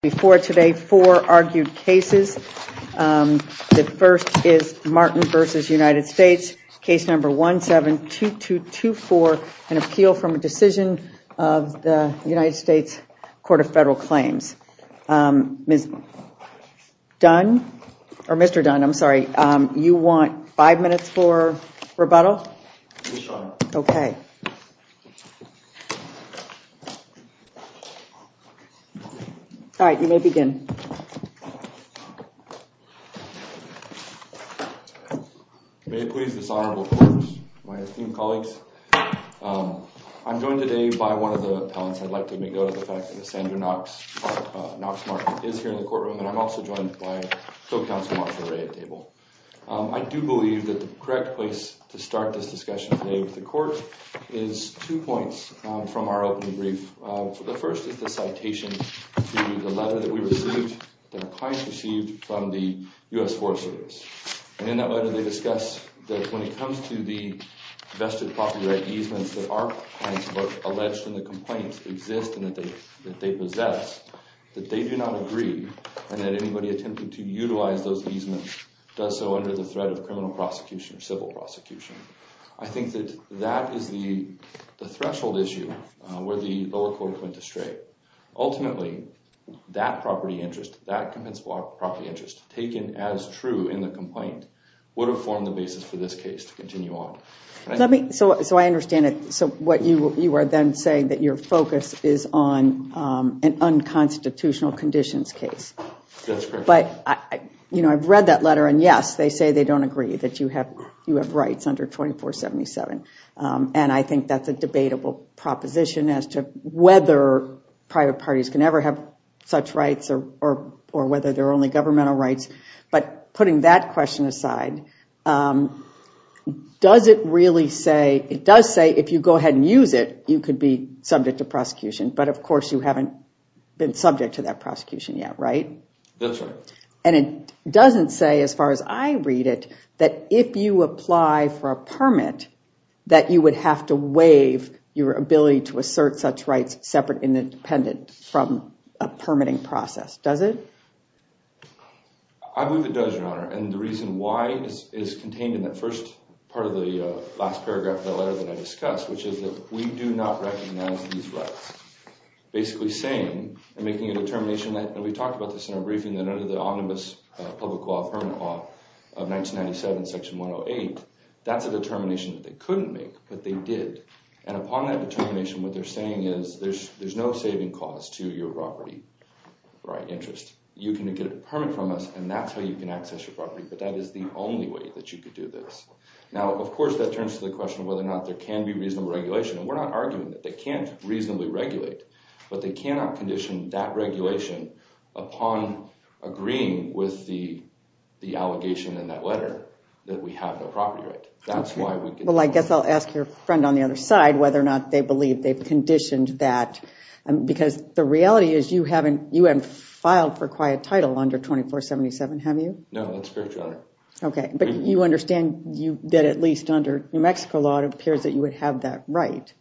Before today, four argued cases. The first is Martin v. United States, case number 172224, an appeal from a decision of the United States Court of Federal Claims. Mr. Dunn, you want five minutes for rebuttal? Okay. All right, you may begin. May it please this honorable court, my esteemed colleagues. I'm joined today by one of the appellants. I'd like to make note of the fact that Sandra Knox is here in the courtroom, and I'm also joined by Co-Counsel Marsha Ray at table. I do believe that the correct place to start this discussion today with the court is two points from our opening brief. The first is the citation to the letter that we received, that our clients received from the U.S. Forest Service. And in that letter, they discuss that when it comes to the vested property right easements that our clients both alleged and the complaints exist and that they possess, that they do not agree and that anybody attempting to utilize those easements does so under the threat of criminal prosecution or civil prosecution. I think that that is the threshold issue where the lower court went astray. Ultimately, that property interest, that compensable property interest taken as true in the complaint would have formed the basis for this case to continue on. So I understand it. So what you are then saying that your focus is on an unconstitutional conditions case. That's correct. You know, I've read that letter and yes, they say they don't agree that you have you have rights under 2477. And I think that's a debatable proposition as to whether private parties can ever have such rights or whether they're only governmental rights. But putting that question aside, does it really say, it does say if you go ahead and use it, you could be subject to prosecution. But of course, you haven't been subject to that prosecution yet, right? That's right. And it doesn't say as far as I read it, that if you apply for a permit, that you would have to waive your ability to assert such rights separate and independent from a permitting process. Does it? I believe it does, Your Honor. And the reason why is contained in that first part of the last paragraph of the letter that I discussed, which is that we do not recognize these rights. Basically saying and making a determination that we talked about this briefing that under the omnibus public law permit law of 1997 section 108, that's a determination that they couldn't make, but they did. And upon that determination, what they're saying is there's no saving cause to your property, right? Interest. You can get a permit from us and that's how you can access your property. But that is the only way that you could do this. Now, of course, that turns to the question of whether or not there can be reasonable regulation. And we're not agreeing with the allegation in that letter that we have no property right. That's why we... Well, I guess I'll ask your friend on the other side whether or not they believe they've conditioned that. Because the reality is you haven't filed for quiet title under 2477, have you? No, that's correct, Your Honor. Okay. But you understand that at least under New Mexico law, it appears that you would have that right.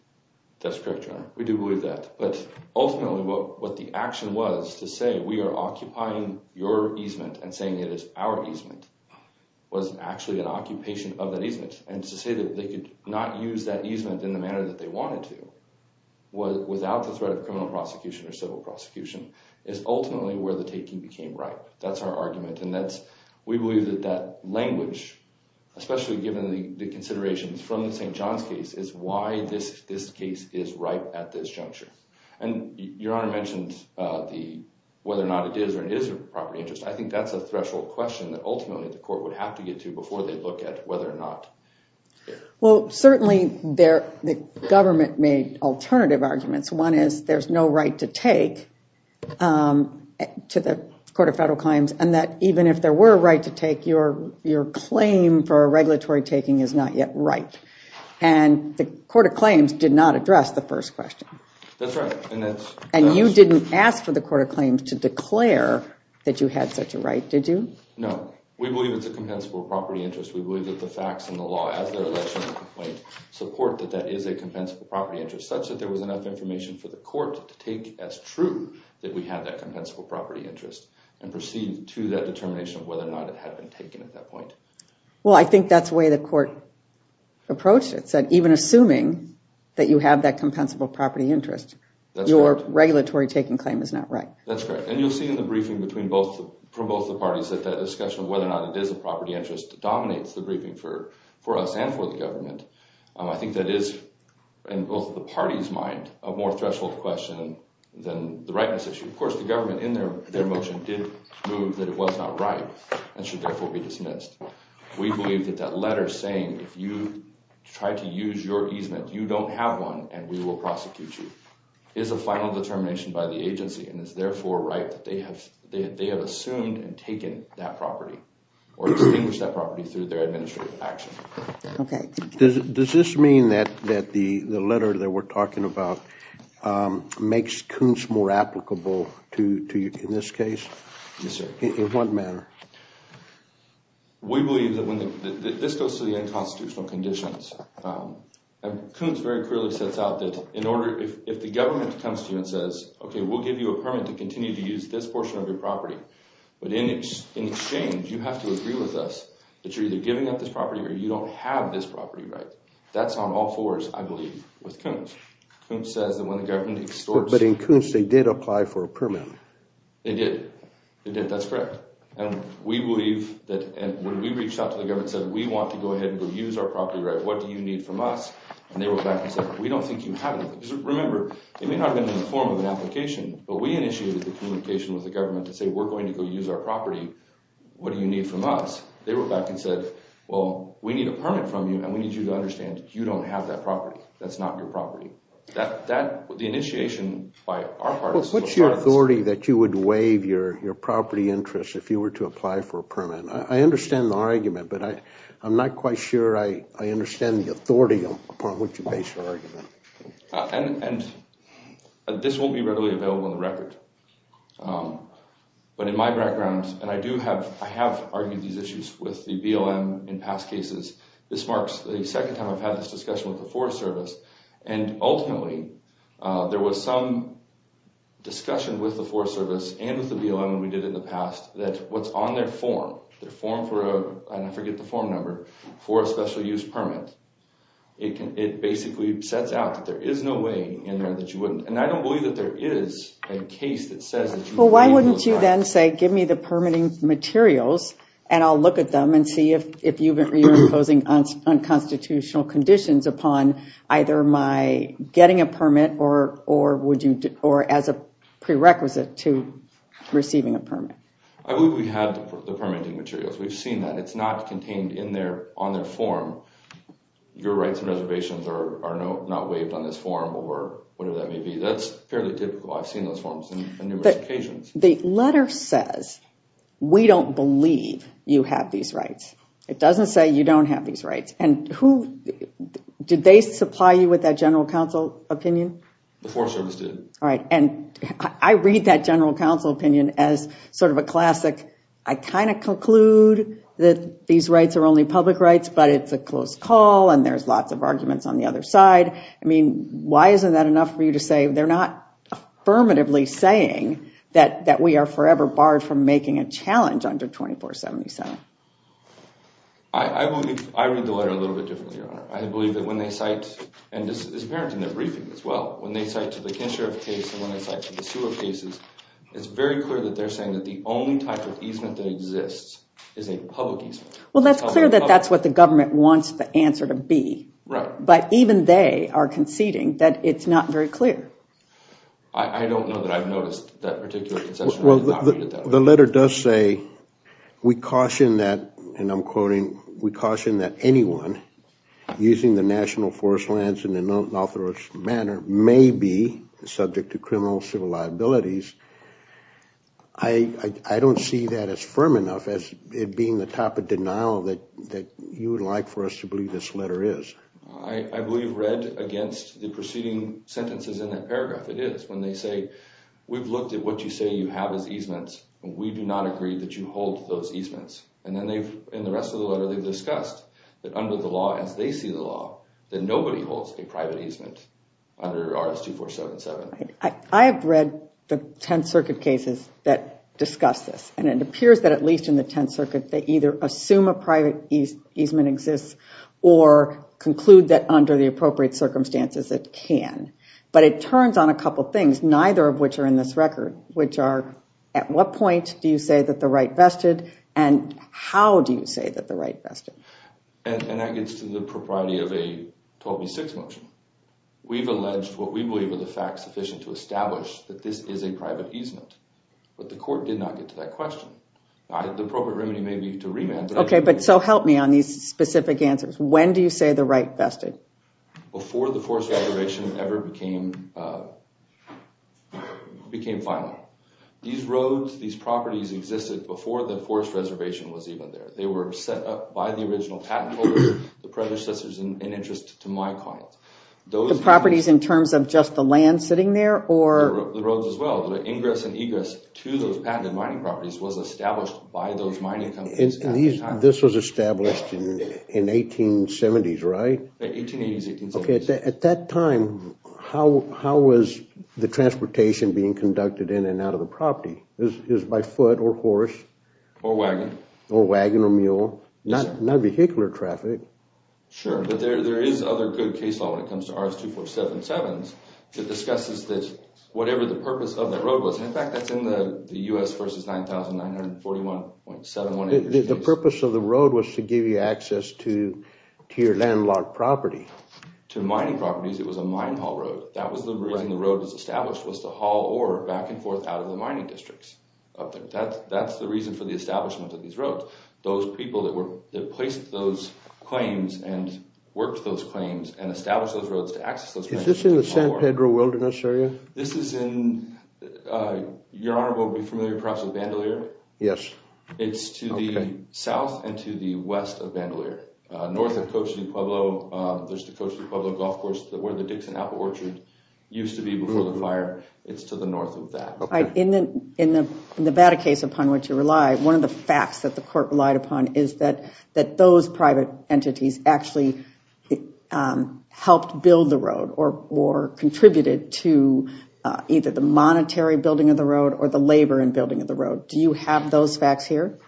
That's correct, Your Honor. We do believe that. But ultimately, what the action was to say, we are occupying your easement and saying it is our easement was actually an occupation of that easement. And to say that they could not use that easement in the manner that they wanted to without the threat of criminal prosecution or civil prosecution is ultimately where the taking became ripe. That's our argument. And we believe that that language, especially given the considerations from the St. John's case, is why this case is ripe at this juncture. And Your Honor mentioned whether or not it is or isn't a property interest. I think that's a threshold question that ultimately the court would have to get to before they look at whether or not... Well, certainly the government made alternative arguments. One is there's no right to take to the Court of Federal Claims. And that even if there were a right to take, your claim for a regulatory taking is not yet ripe. And the Court of Claims did not address the first question. That's right. And you didn't ask for the Court of Claims to declare that you had such a right, did you? No. We believe it's a compensable property interest. We believe that the facts and the law as their election complaint support that that is a compensable property interest, such that there was enough information for the court to take as true that we had that compensable property interest and proceed to that determination of whether or not it had been taken at that point. Well, I think that's the way the court approached it. So even assuming that you have that compensable property interest, your regulatory taking claim is not right. That's correct. And you'll see in the briefing from both the parties that that discussion of whether or not it is a property interest dominates the briefing for us and for the government. I think that is, in both the parties' mind, a more threshold question than the rightness issue. Of course, the government in their motion did move that it was not right and should therefore be and we will prosecute you. It is a final determination by the agency and is therefore right that they have assumed and taken that property or extinguished that property through their administrative action. Okay. Does this mean that the letter that we're talking about makes Kuntz more applicable to you in this case? Yes, sir. In what manner? We believe that when this goes to the unconstitutional conditions, and Kuntz very clearly sets out that in order, if the government comes to you and says, okay, we'll give you a permit to continue to use this portion of your property, but in exchange, you have to agree with us that you're either giving up this property or you don't have this property right. That's on all fours, I believe, with Kuntz. Kuntz says that when the government extorts. But in Kuntz, they did apply for a permit. They did. They did. And we believe that when we reached out to the government and said, we want to go ahead and go use our property right. What do you need from us? And they wrote back and said, we don't think you have anything. Remember, it may not have been in the form of an application, but we initiated the communication with the government to say, we're going to go use our property. What do you need from us? They wrote back and said, well, we need a permit from you and we need you to understand you don't have that property. That's not your property. The initiation by our part. What's your authority that you would waive your property interest if you were to apply for a permit? I understand the argument, but I'm not quite sure I understand the authority upon which you base your argument. And this won't be readily available on the record. But in my background, and I do have, I have argued these issues with the BLM in past cases. This marks the second time I've had this and ultimately, there was some discussion with the Forest Service and with the BLM we did in the past that what's on their form, their form for a, and I forget the form number, for a special use permit. It can, it basically sets out that there is no way in there that you wouldn't, and I don't believe that there is a case that says that. Well, why wouldn't you then say, give me the permitting materials and I'll look at them and see if you've been imposing unconstitutional conditions upon either my getting a permit or would you, or as a prerequisite to receiving a permit. I believe we have the permitting materials. We've seen that. It's not contained in their, on their form. Your rights and reservations are not waived on this form or whatever that may be. That's fairly typical. I've seen those forms on numerous occasions. The letter says, we don't believe you have these rights. It doesn't say you don't have these rights and who, did they supply you with that general counsel opinion? The Forest Service did. All right. And I read that general counsel opinion as sort of a classic, I kind of conclude that these rights are only public rights, but it's a close call and there's lots of arguments on the other side. I mean, why isn't that enough for you to say they're not affirmatively saying that we are forever barred from making a challenge under 2477? I read the letter a little bit differently, Your Honor. I believe that when they cite, and this is apparent in their briefing as well, when they cite to the kinship case and when they cite to the sewer cases, it's very clear that they're saying that the only type of easement that exists is a public easement. Well, that's clear that that's what the government wants the answer to be. Right. But even they are conceding that it's not very clear. I don't know that I've read that particular concession. The letter does say, we caution that, and I'm quoting, we caution that anyone using the national forest lands in an unauthorized manner may be subject to criminal civil liabilities. I don't see that as firm enough as it being the type of denial that that you would like for us to believe this letter is. I believe read against the preceding sentences in that paragraph. It is when they say, we've looked at what you say you have as easements, and we do not agree that you hold those easements. And then they've, in the rest of the letter, they've discussed that under the law, as they see the law, that nobody holds a private easement under RS-2477. I have read the 10th Circuit cases that discuss this, and it appears that at least in the 10th Circuit, they either assume a private easement exists or conclude that under the law. It turns on a couple things, neither of which are in this record, which are, at what point do you say that the right vested, and how do you say that the right vested? And that gets to the propriety of a 12B6 motion. We've alleged what we believe are the facts sufficient to establish that this is a private easement, but the court did not get to that question. The appropriate remedy may be to remand. Okay, but so help me on these specific answers. When do you say the right vested? Before the Forest Reservation ever became final. These roads, these properties, existed before the Forest Reservation was even there. They were set up by the original patent holders, the predecessors in interest to my client. The properties in terms of just the land sitting there? The roads as well. The ingress and egress to those patented mining properties was established by those mining companies. And these, this was established in 1870s, right? 1880s, 1870s. Okay, at that time, how was the transportation being conducted in and out of the property? Is by foot or horse? Or wagon. Or wagon or mule? Not vehicular traffic. Sure, but there is other good case law when it comes to RS-2477s that discusses this, whatever the purpose of that road was. In fact, that's in the U.S. versus 9,941.718. The purpose of the road was to give you access to to your landlocked property. To mining properties, it was a mine haul road. That was the reason the road was established, was to haul ore back and forth out of the mining districts up there. That's the reason for the establishment of these roads. Those people that were, that placed those claims and worked those claims and established those roads to access those. Is this in the San Pedro Wilderness area? This is in, your honor will be familiar perhaps with Bandelier. Yes. It's to the south and to the west of Bandelier, north of Cochise Pueblo. There's the Cochise Pueblo golf course where the Dixon Apple Orchard used to be before the fire. It's to the north of that. In the Nevada case upon which you rely, one of the facts that the court relied upon is that those private entities actually helped build the road or contributed to either the monetary building of the road or the labor and building of the road. Do you have those facts here?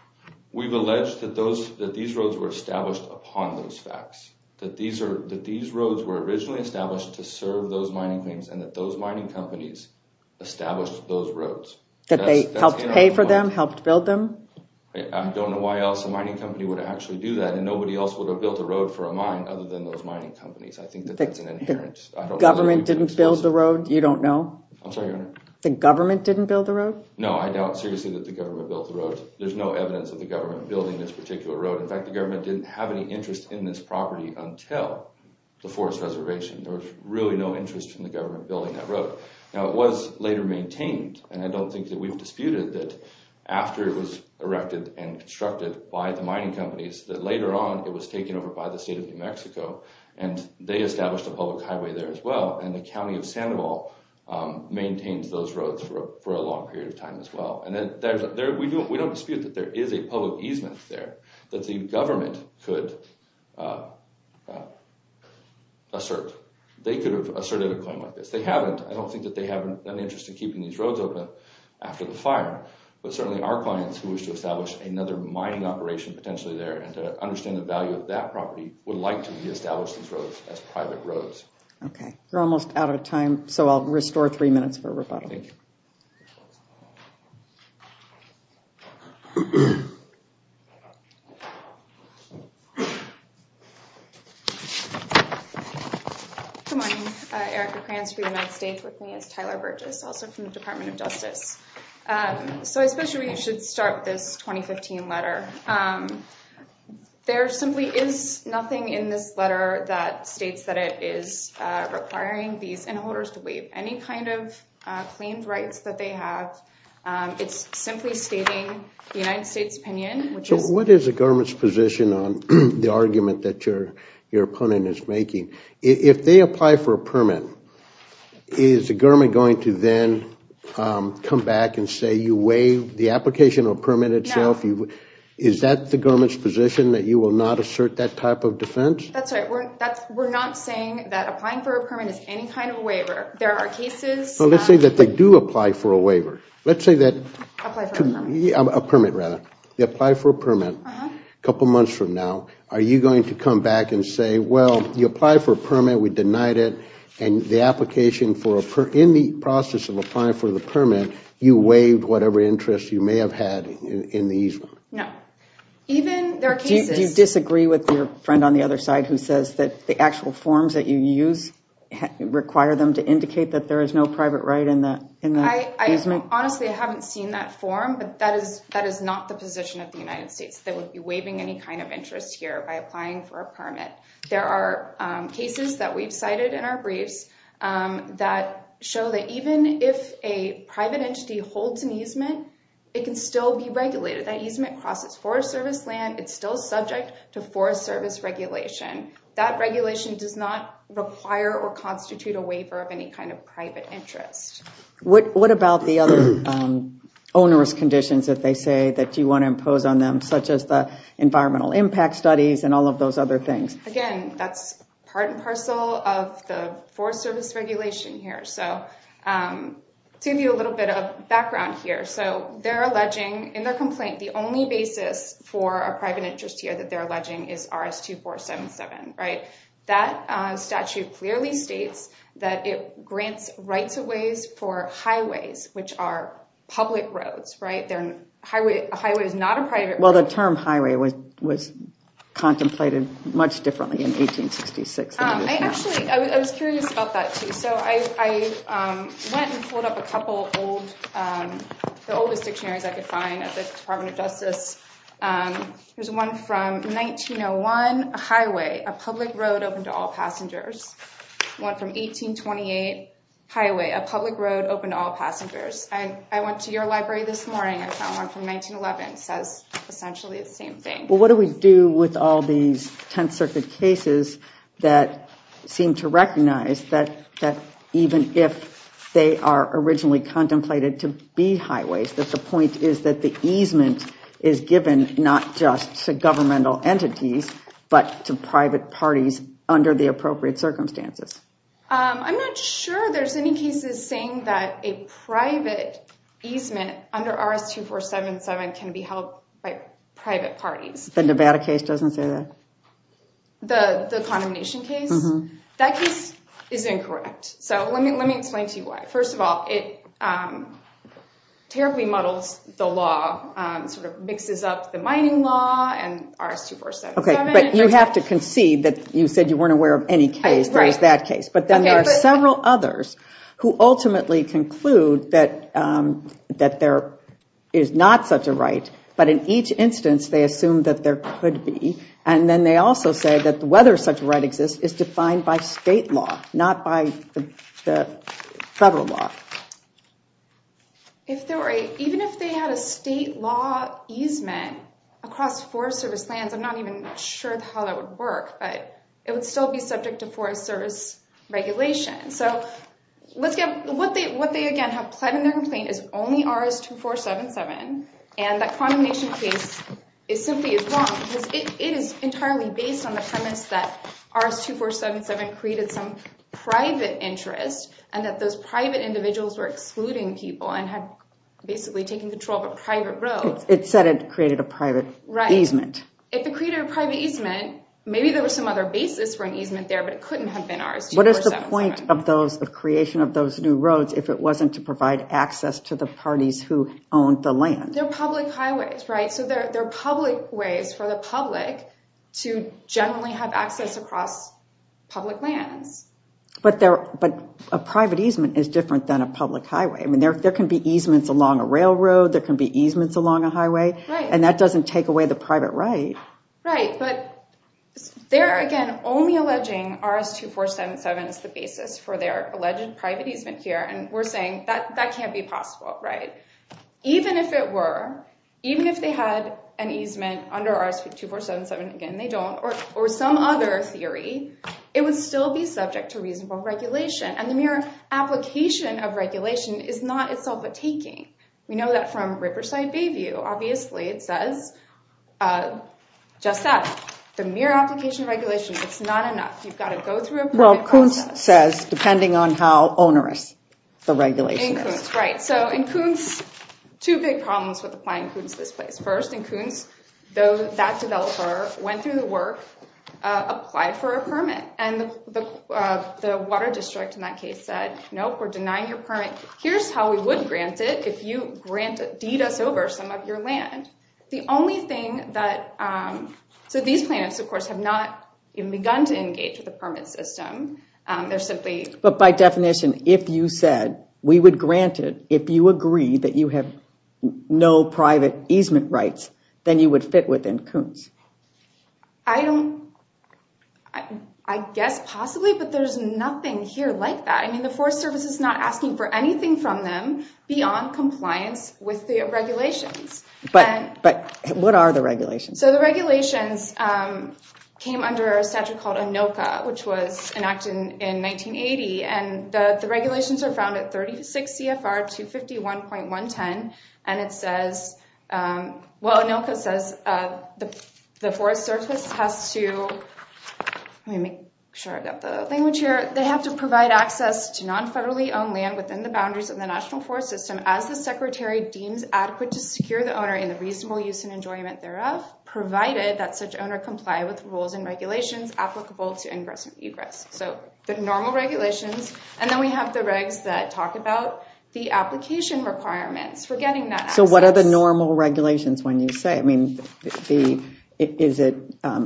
We've alleged that those, that these roads were established upon those facts. That these are, that these roads were originally established to serve those mining claims and that those mining companies established those roads. That they helped pay for them, helped build them? I don't know why else a mining company would actually do that and nobody else would have built a road for a mine other than those mining companies. I think that that's an inherent... The government didn't build the road? You don't know? I'm sorry, your honor? The government didn't build the road? No, I doubt seriously that the government built the road. There's no evidence of the government building this particular road. In fact, the government didn't have any interest in this property until the forest reservation. There was really no interest in the government building that road. Now it was later maintained and I don't think that we've disputed that after it was erected and constructed by the mining companies that later on it was taken over by the state of New Mexico and they established a public highway there as well and the county of Sandoval maintains those roads for a long period of time as well. We don't dispute that there is a public easement there that the government could assert. They could have asserted a claim like this. They haven't. I don't think that they have any interest in keeping these roads open after the but certainly our clients who wish to establish another mining operation potentially there and to understand the value of that property would like to re-establish these roads as private roads. Okay, you're almost out of time so I'll restore three minutes for rebuttal. Good morning. Erica Kranz for the United States with me. It's Tyler Burgess also from the so I suppose you should start this 2015 letter. There simply is nothing in this letter that states that it is requiring these inholders to waive any kind of claimed rights that they have. It's simply stating the United States opinion. So what is the government's position on the argument that your opponent is making? If they apply for a permit, is the government going to then come back and say you waive the application or permit itself? Is that the government's position that you will not assert that type of defense? That's right. We're not saying that applying for a permit is any kind of waiver. There are cases. Well, let's say that they do apply for a waiver. Let's say that a permit rather. They apply for a permit a couple months from now. Are you going to come back and the application for in the process of applying for the permit, you waived whatever interest you may have had in the easement? No. Do you disagree with your friend on the other side who says that the actual forms that you use require them to indicate that there is no private right in the easement? Honestly, I haven't seen that form but that is not the position of the United States. They would be waiving any kind of interest here by applying for a permit. There are cases that we've cited in our briefs that show that even if a private entity holds an easement, it can still be regulated. That easement crosses Forest Service land. It's still subject to Forest Service regulation. That regulation does not require or constitute a waiver of any kind of private interest. What about the other onerous conditions that they say that you want to impose on them, such as the environmental impact studies and all of those other things? Again, that's part and parcel of the Forest Service regulation here. To give you a little bit of background here, in their complaint, the only basis for a private interest here that they're alleging is RS-2477. That statute clearly states that it grants rights-of-ways for highways, which are public roads. A highway is not a private road. The term highway was contemplated much differently in 1866. I was curious about that, too. I went and pulled up a couple of the oldest dictionaries I could find at the Department of Justice. There's one from 1901, a highway, a public road open to all passengers. One from 1828, a highway, a public road open to all passengers. I went to your same thing. What do we do with all these Tenth Circuit cases that seem to recognize that even if they are originally contemplated to be highways, that the point is that the easement is given not just to governmental entities, but to private parties under the appropriate circumstances? I'm not sure there's any cases saying that a private easement under RS-2477 can be held by private parties. The Nevada case doesn't say that? The condemnation case? That case is incorrect. Let me explain to you why. First of all, it terribly muddles the law, sort of mixes up the mining law and RS-2477. Okay, but you have to concede that you said you weren't aware of any case. There's that case, but then there are several others who ultimately conclude that there is not such a right, but in each instance they assume that there could be, and then they also say that whether such a right exists is defined by state law, not by the federal law. Even if they had a state law easement across Forest Service lands, I'm not even sure how that would work, but it would still be subject to Forest Service regulation. What they, again, have pled in their complaint is only RS-2477, and that condemnation case simply is wrong because it is entirely based on the premise that RS-2477 created some private interest and that those private individuals were excluding people and had basically taken control of a private road. It said it created a private easement. If it created a private easement, maybe there was some other basis for an easement there, but it couldn't have been RS-2477. What is the point of those, of creation of those new roads, if it wasn't to provide access to the parties who owned the land? They're public highways, right? So they're public ways for the public to generally have access across public lands. But a private easement is different than a public highway. I mean, there can be easements along a railroad, there can be easements along a highway, and that doesn't take away the private right. Right, but they're, again, only alleging RS-2477 as the basis for their alleged private easement here, and we're saying that that can't be possible, right? Even if it were, even if they had an easement under RS-2477, again, they don't, or some other theory, it would still be subject to reasonable regulation. And the mere application of regulation is not itself a taking. We know that from Riverside Bayview, obviously, it says just that, the mere application of regulation, it's not enough. You've got to go through a private process. Well, Koontz says, depending on how onerous the regulation is. Right, so in Koontz, two big problems with applying Koontz this place. First, in Koontz, that developer went through the work, applied for a permit, and the water district in that case said, nope, we're denying your permit. Here's how we would grant it, if you grant, deed us over some of your land. The only thing that, so these plaintiffs, of course, have not even begun to engage with the permit system. They're simply, but by definition, if you said we would grant it, if you agree that you have no private easement rights, then you would fit within Koontz. I don't, I guess possibly, but there's nothing here like that. I mean, the Forest Service is not asking for anything from them beyond compliance with the regulations. But what are the regulations? So the regulations came under a statute called ANILCA, which was enacted in 1980, and the regulations are found at 36 CFR 251.110, and it says, well ANILCA says, the Forest Service has to, let me make sure I've got the language here, they have to provide access to non-federally owned land within the boundaries of the national forest system, as the Secretary deems adequate to secure the owner in the reasonable use and enjoyment thereof, provided that such owner comply with rules and regulations applicable to ingress and egress. So the normal regulations, and then we have the regs that talk about the application requirements for getting that access. So what are the normal regulations when you say, I mean, is it,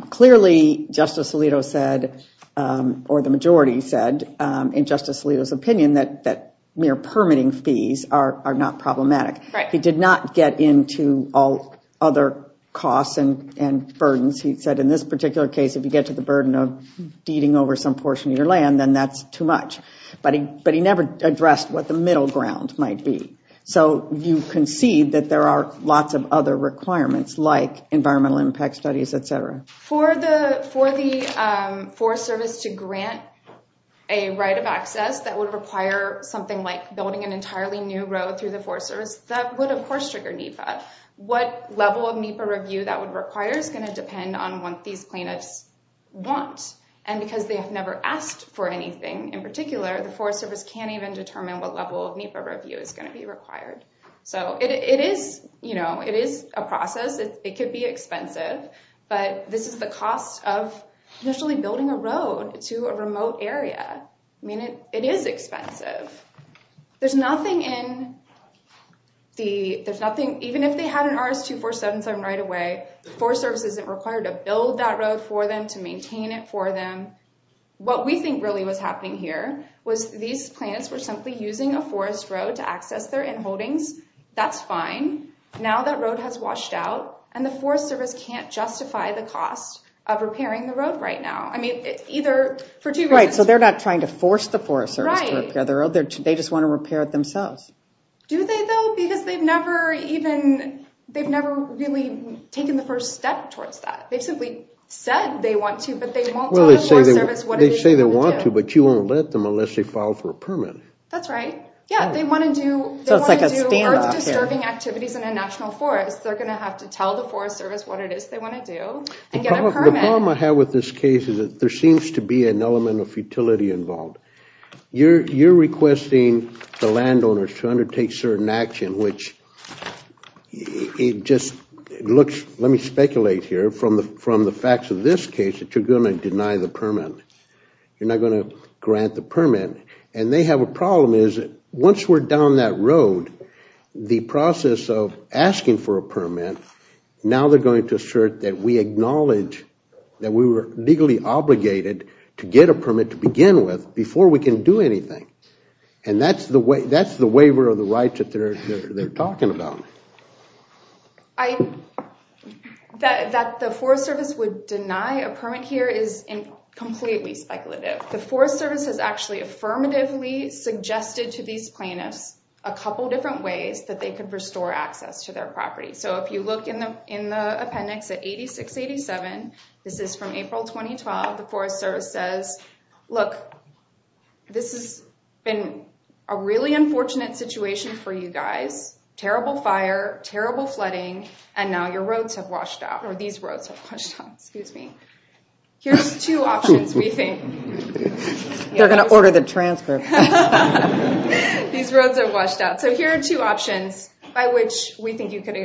clearly Justice Alito said, or the majority said, in Justice Alito's opinion, that mere permitting fees are not problematic. He did not get into all other costs and burdens. He said in this particular case, if you get to the burden of deeding over some portion of your land, then that's too much. But he never addressed what the middle ground might be. So you can see that there are lots of other requirements like environmental impact studies, et cetera. For the Forest Service to grant a right of access that would require something like building an entirely new road through the Forest Service, that would of course trigger NEPA. What level of NEPA review that would require is going to depend on what these plaintiffs want. And because they have never asked for anything in particular, the Forest Service can't even determine what level of NEPA review is going to be required. So it is a process. It could be expensive, but this is the cost of initially building a road to a remote area. I mean, it is expensive. There's nothing in... Even if they had an RS-2477 right away, the Forest Service isn't required to build that road for them, to maintain it for them. What we think really was happening here was these plaintiffs were simply using a forest road to access their inholdings. That's fine. Now that road has washed out and the Forest Service can't justify the cost of repairing the road right now. I mean, either for two reasons. Right. So they're not trying to force the Forest Service to repair the road. They just want to repair it themselves. Do they though? Because they've never even, they've never really taken the first step towards that. They've simply said they want to, but they won't tell the Forest Service what it is they want to do. They say they want to, but you won't let them unless they file for a permit. That's right. Yeah. They want to do... So it's like a standoff here. ...earth disturbing activities in a national forest. They're going to have to tell the Forest Service. The problem I have with this case is that there seems to be an element of futility involved. You're requesting the landowners to undertake certain action, which it just looks, let me speculate here from the facts of this case, that you're going to deny the permit. You're not going to grant the permit. And they have a problem is once we're down that we were legally obligated to get a permit to begin with before we can do anything. And that's the waiver of the rights that they're talking about. That the Forest Service would deny a permit here is completely speculative. The Forest Service has actually affirmatively suggested to these plaintiffs a couple different ways that they could restore access to their property. So if you look in the appendix at 8687, this is from April 2012. The Forest Service says, look, this has been a really unfortunate situation for you guys. Terrible fire, terrible flooding, and now your roads have washed out, or these roads have washed out. Excuse me. Here's two options we think. They're going to order the transfer. These roads are washed out. So here are two options by which we think you could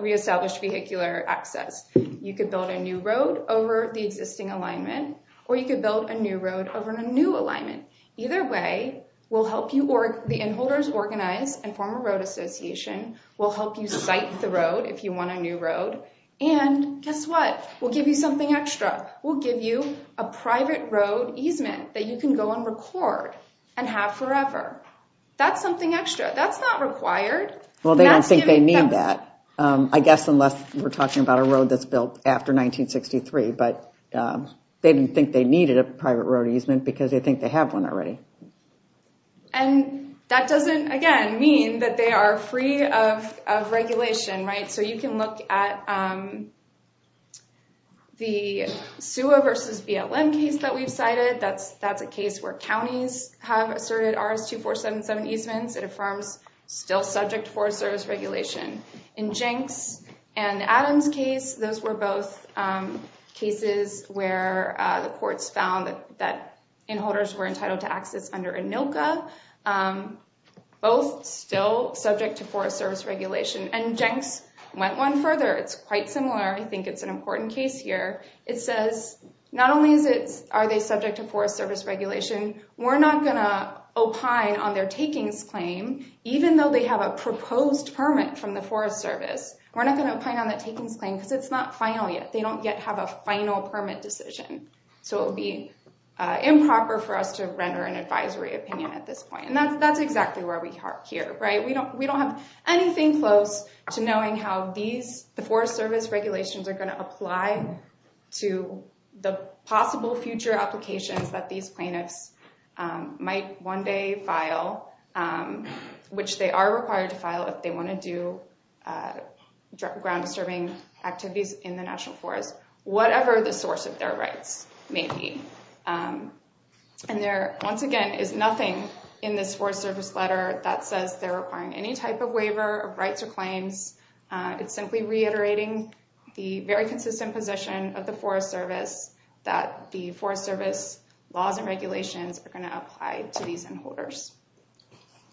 reestablish vehicular access. You could build a new road over the existing alignment, or you could build a new road over a new alignment. Either way, we'll help you or the inholders organize and form a road association. We'll help you site the road if you want a new road. And guess what? We'll give you something extra. We'll give you a private road easement that you can go and record and have forever. That's something extra. That's not required. Well, they don't think they need that, I guess, unless we're talking about a road that's built after 1963. But they didn't think they needed a private road easement because they think they have one already. And that doesn't, again, mean that they are free of regulation, right? So you can look at the sewer versus BLM case that we've cited. That's a case where counties have asserted 2477 easements. It affirms still subject to Forest Service regulation. In Jenks and Adams case, those were both cases where the courts found that inholders were entitled to access under ANILCA, both still subject to Forest Service regulation. And Jenks went one further. It's quite similar. I think it's an important case here. It says not only are they subject to Forest Service regulation, we're not going to opine on their takings claim, even though they have a proposed permit from the Forest Service. We're not going to opine on that takings claim because it's not final yet. They don't yet have a final permit decision. So it would be improper for us to render an advisory opinion at this point. And that's exactly where we are here, right? We don't have anything close to knowing how the Forest Service regulations are going to apply to the possible future applications that these plaintiffs might one day file, which they are required to file if they want to do ground disturbing activities in the National Forest, whatever the source of their rights may be. And there, once again, is nothing in this Forest Service letter that says they're requiring any type of waiver of rights or claims. It's simply reiterating the very consistent position of the Forest Service that the Forest Service laws and regulations are going to apply to these end holders.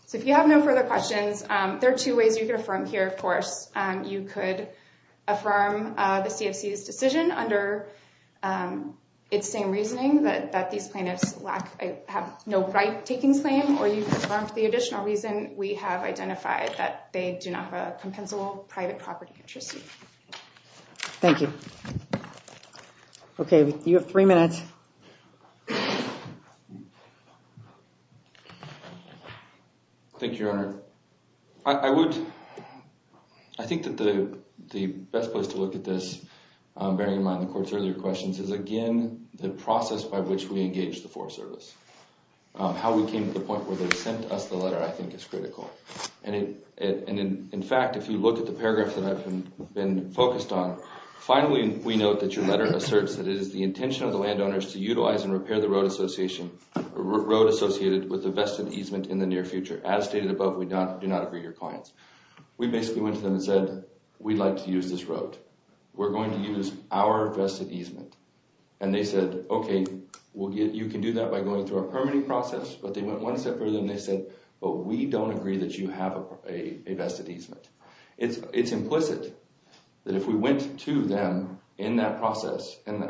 So if you have no further questions, there are two ways you can affirm here. Of course, you could affirm the CFC's decision under its same reasoning that these plaintiffs have no right takings claim, or you can affirm for the additional reason we have identified that they do not have a Okay, you have three minutes. Thank you, Your Honor. I would, I think that the best place to look at this, bearing in mind the Court's earlier questions, is again the process by which we engage the Forest Service. How we came to the point where they sent us the letter, I think is critical. And in fact, if you look at the paragraphs that I've been focused on, finally we note that your letter asserts that it is the intention of the landowners to utilize and repair the road association, road associated with the vested easement in the near future. As stated above, we do not agree your clients. We basically went to them and said, we'd like to use this road. We're going to use our vested easement. And they said, okay, you can do that by going through our permitting process. But they went one step further and they said, but we don't agree that you have a vested easement. It's implicit that if we went to them in that process, and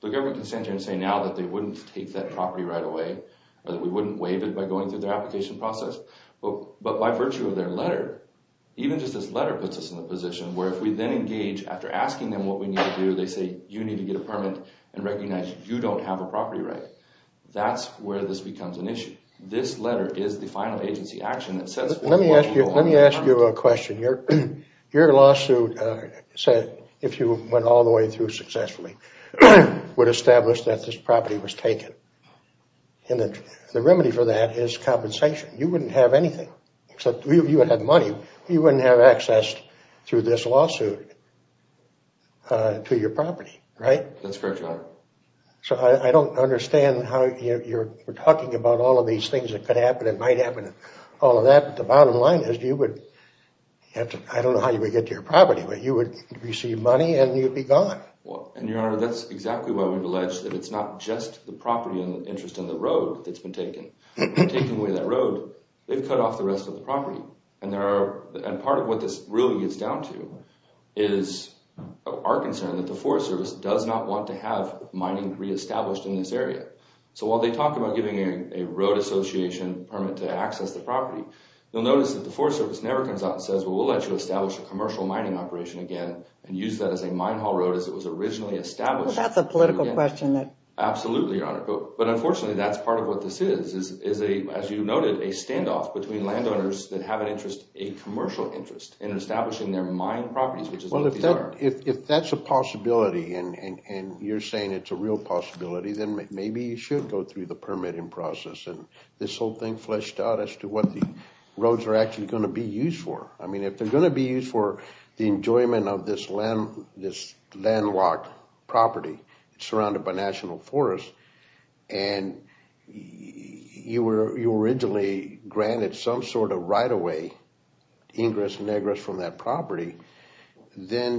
the government can stand here and say now that they wouldn't take that property right away, or that we wouldn't waive it by going through their application process. But by virtue of their letter, even just this letter puts us in a position where if we then engage after asking them what we need to do, they say, you need to get a permit and recognize you don't have a property right. That's where this becomes an issue. This letter is the final agency action that says... Let me ask you a question. Your lawsuit said if you went all the way through successfully, would establish that this property was taken. And the remedy for that is compensation. You wouldn't have anything, except you would have money. You wouldn't have access through this lawsuit to your property, right? That's correct, Your Honor. So I don't understand how you're talking about all of these things that could happen and might happen and all of that, but the bottom line is you would have to... I don't know how you would get to your property, but you would receive money and you'd be gone. Well, and Your Honor, that's exactly why we've alleged that it's not just the property and the interest in the road that's been taken. Taking away that road, they've cut off the rest of the property. And part of what this really gets down to is our concern that the Forest Service does not want to have mining re-established in this area. So while they talk about giving a road association permit to access the property, you'll notice that the Forest Service never comes out and says, well, we'll let you establish a commercial mining operation again and use that as a mine haul road as it was originally established. Well, that's a political question. Absolutely, Your Honor. But unfortunately, that's part of what this is. As you noted, a standoff between landowners that have an interest, and establishing their mine properties, which is what these are. Well, if that's a possibility, and you're saying it's a real possibility, then maybe you should go through the permitting process and this whole thing fleshed out as to what the roads are actually going to be used for. I mean, if they're going to be used for the enjoyment of this landlocked property surrounded by national property, then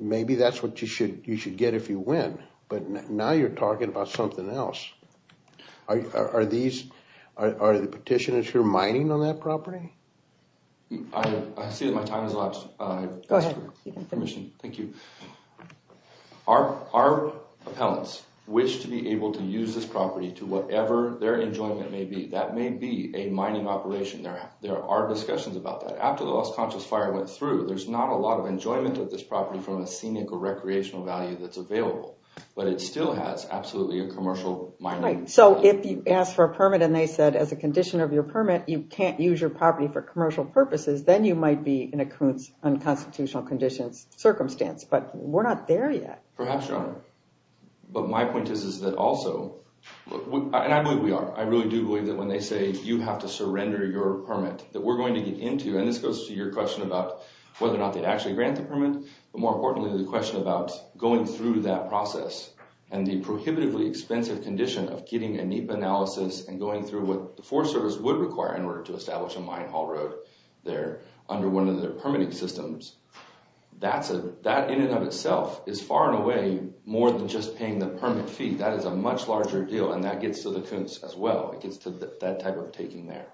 maybe that's what you should get if you win. But now you're talking about something else. Are the petitioners here mining on that property? I see that my time has elapsed. Thank you. Our appellants wish to be able to use this property to whatever their enjoyment may be. That may be a mining operation. There are discussions about that. After the Lost Conscious Fire went through, there's not a lot of enjoyment of this property from a scenic or recreational value that's available. But it still has absolutely a commercial mining. So if you ask for a permit and they said, as a condition of your permit, you can't use your property for commercial purposes, then you might be in a constitutional conditions circumstance. But we're not there yet. Perhaps, Your Honor. But my point is that also, and I believe we are, I really do believe that when they say, you have to surrender your permit, that we're going to get into, and this goes to your question about whether or not they'd actually grant the permit, but more importantly, the question about going through that process and the prohibitively expensive condition of getting a NEPA analysis and going through what the Forest Service would require in order to establish a mine haul road there under one of their permitting systems. That in and of itself is far and away more than just paying the permit fee. That is a much larger deal, and that gets to the coons as well. It gets to that type of taking there.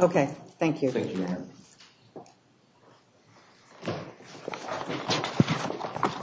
Okay, thank you.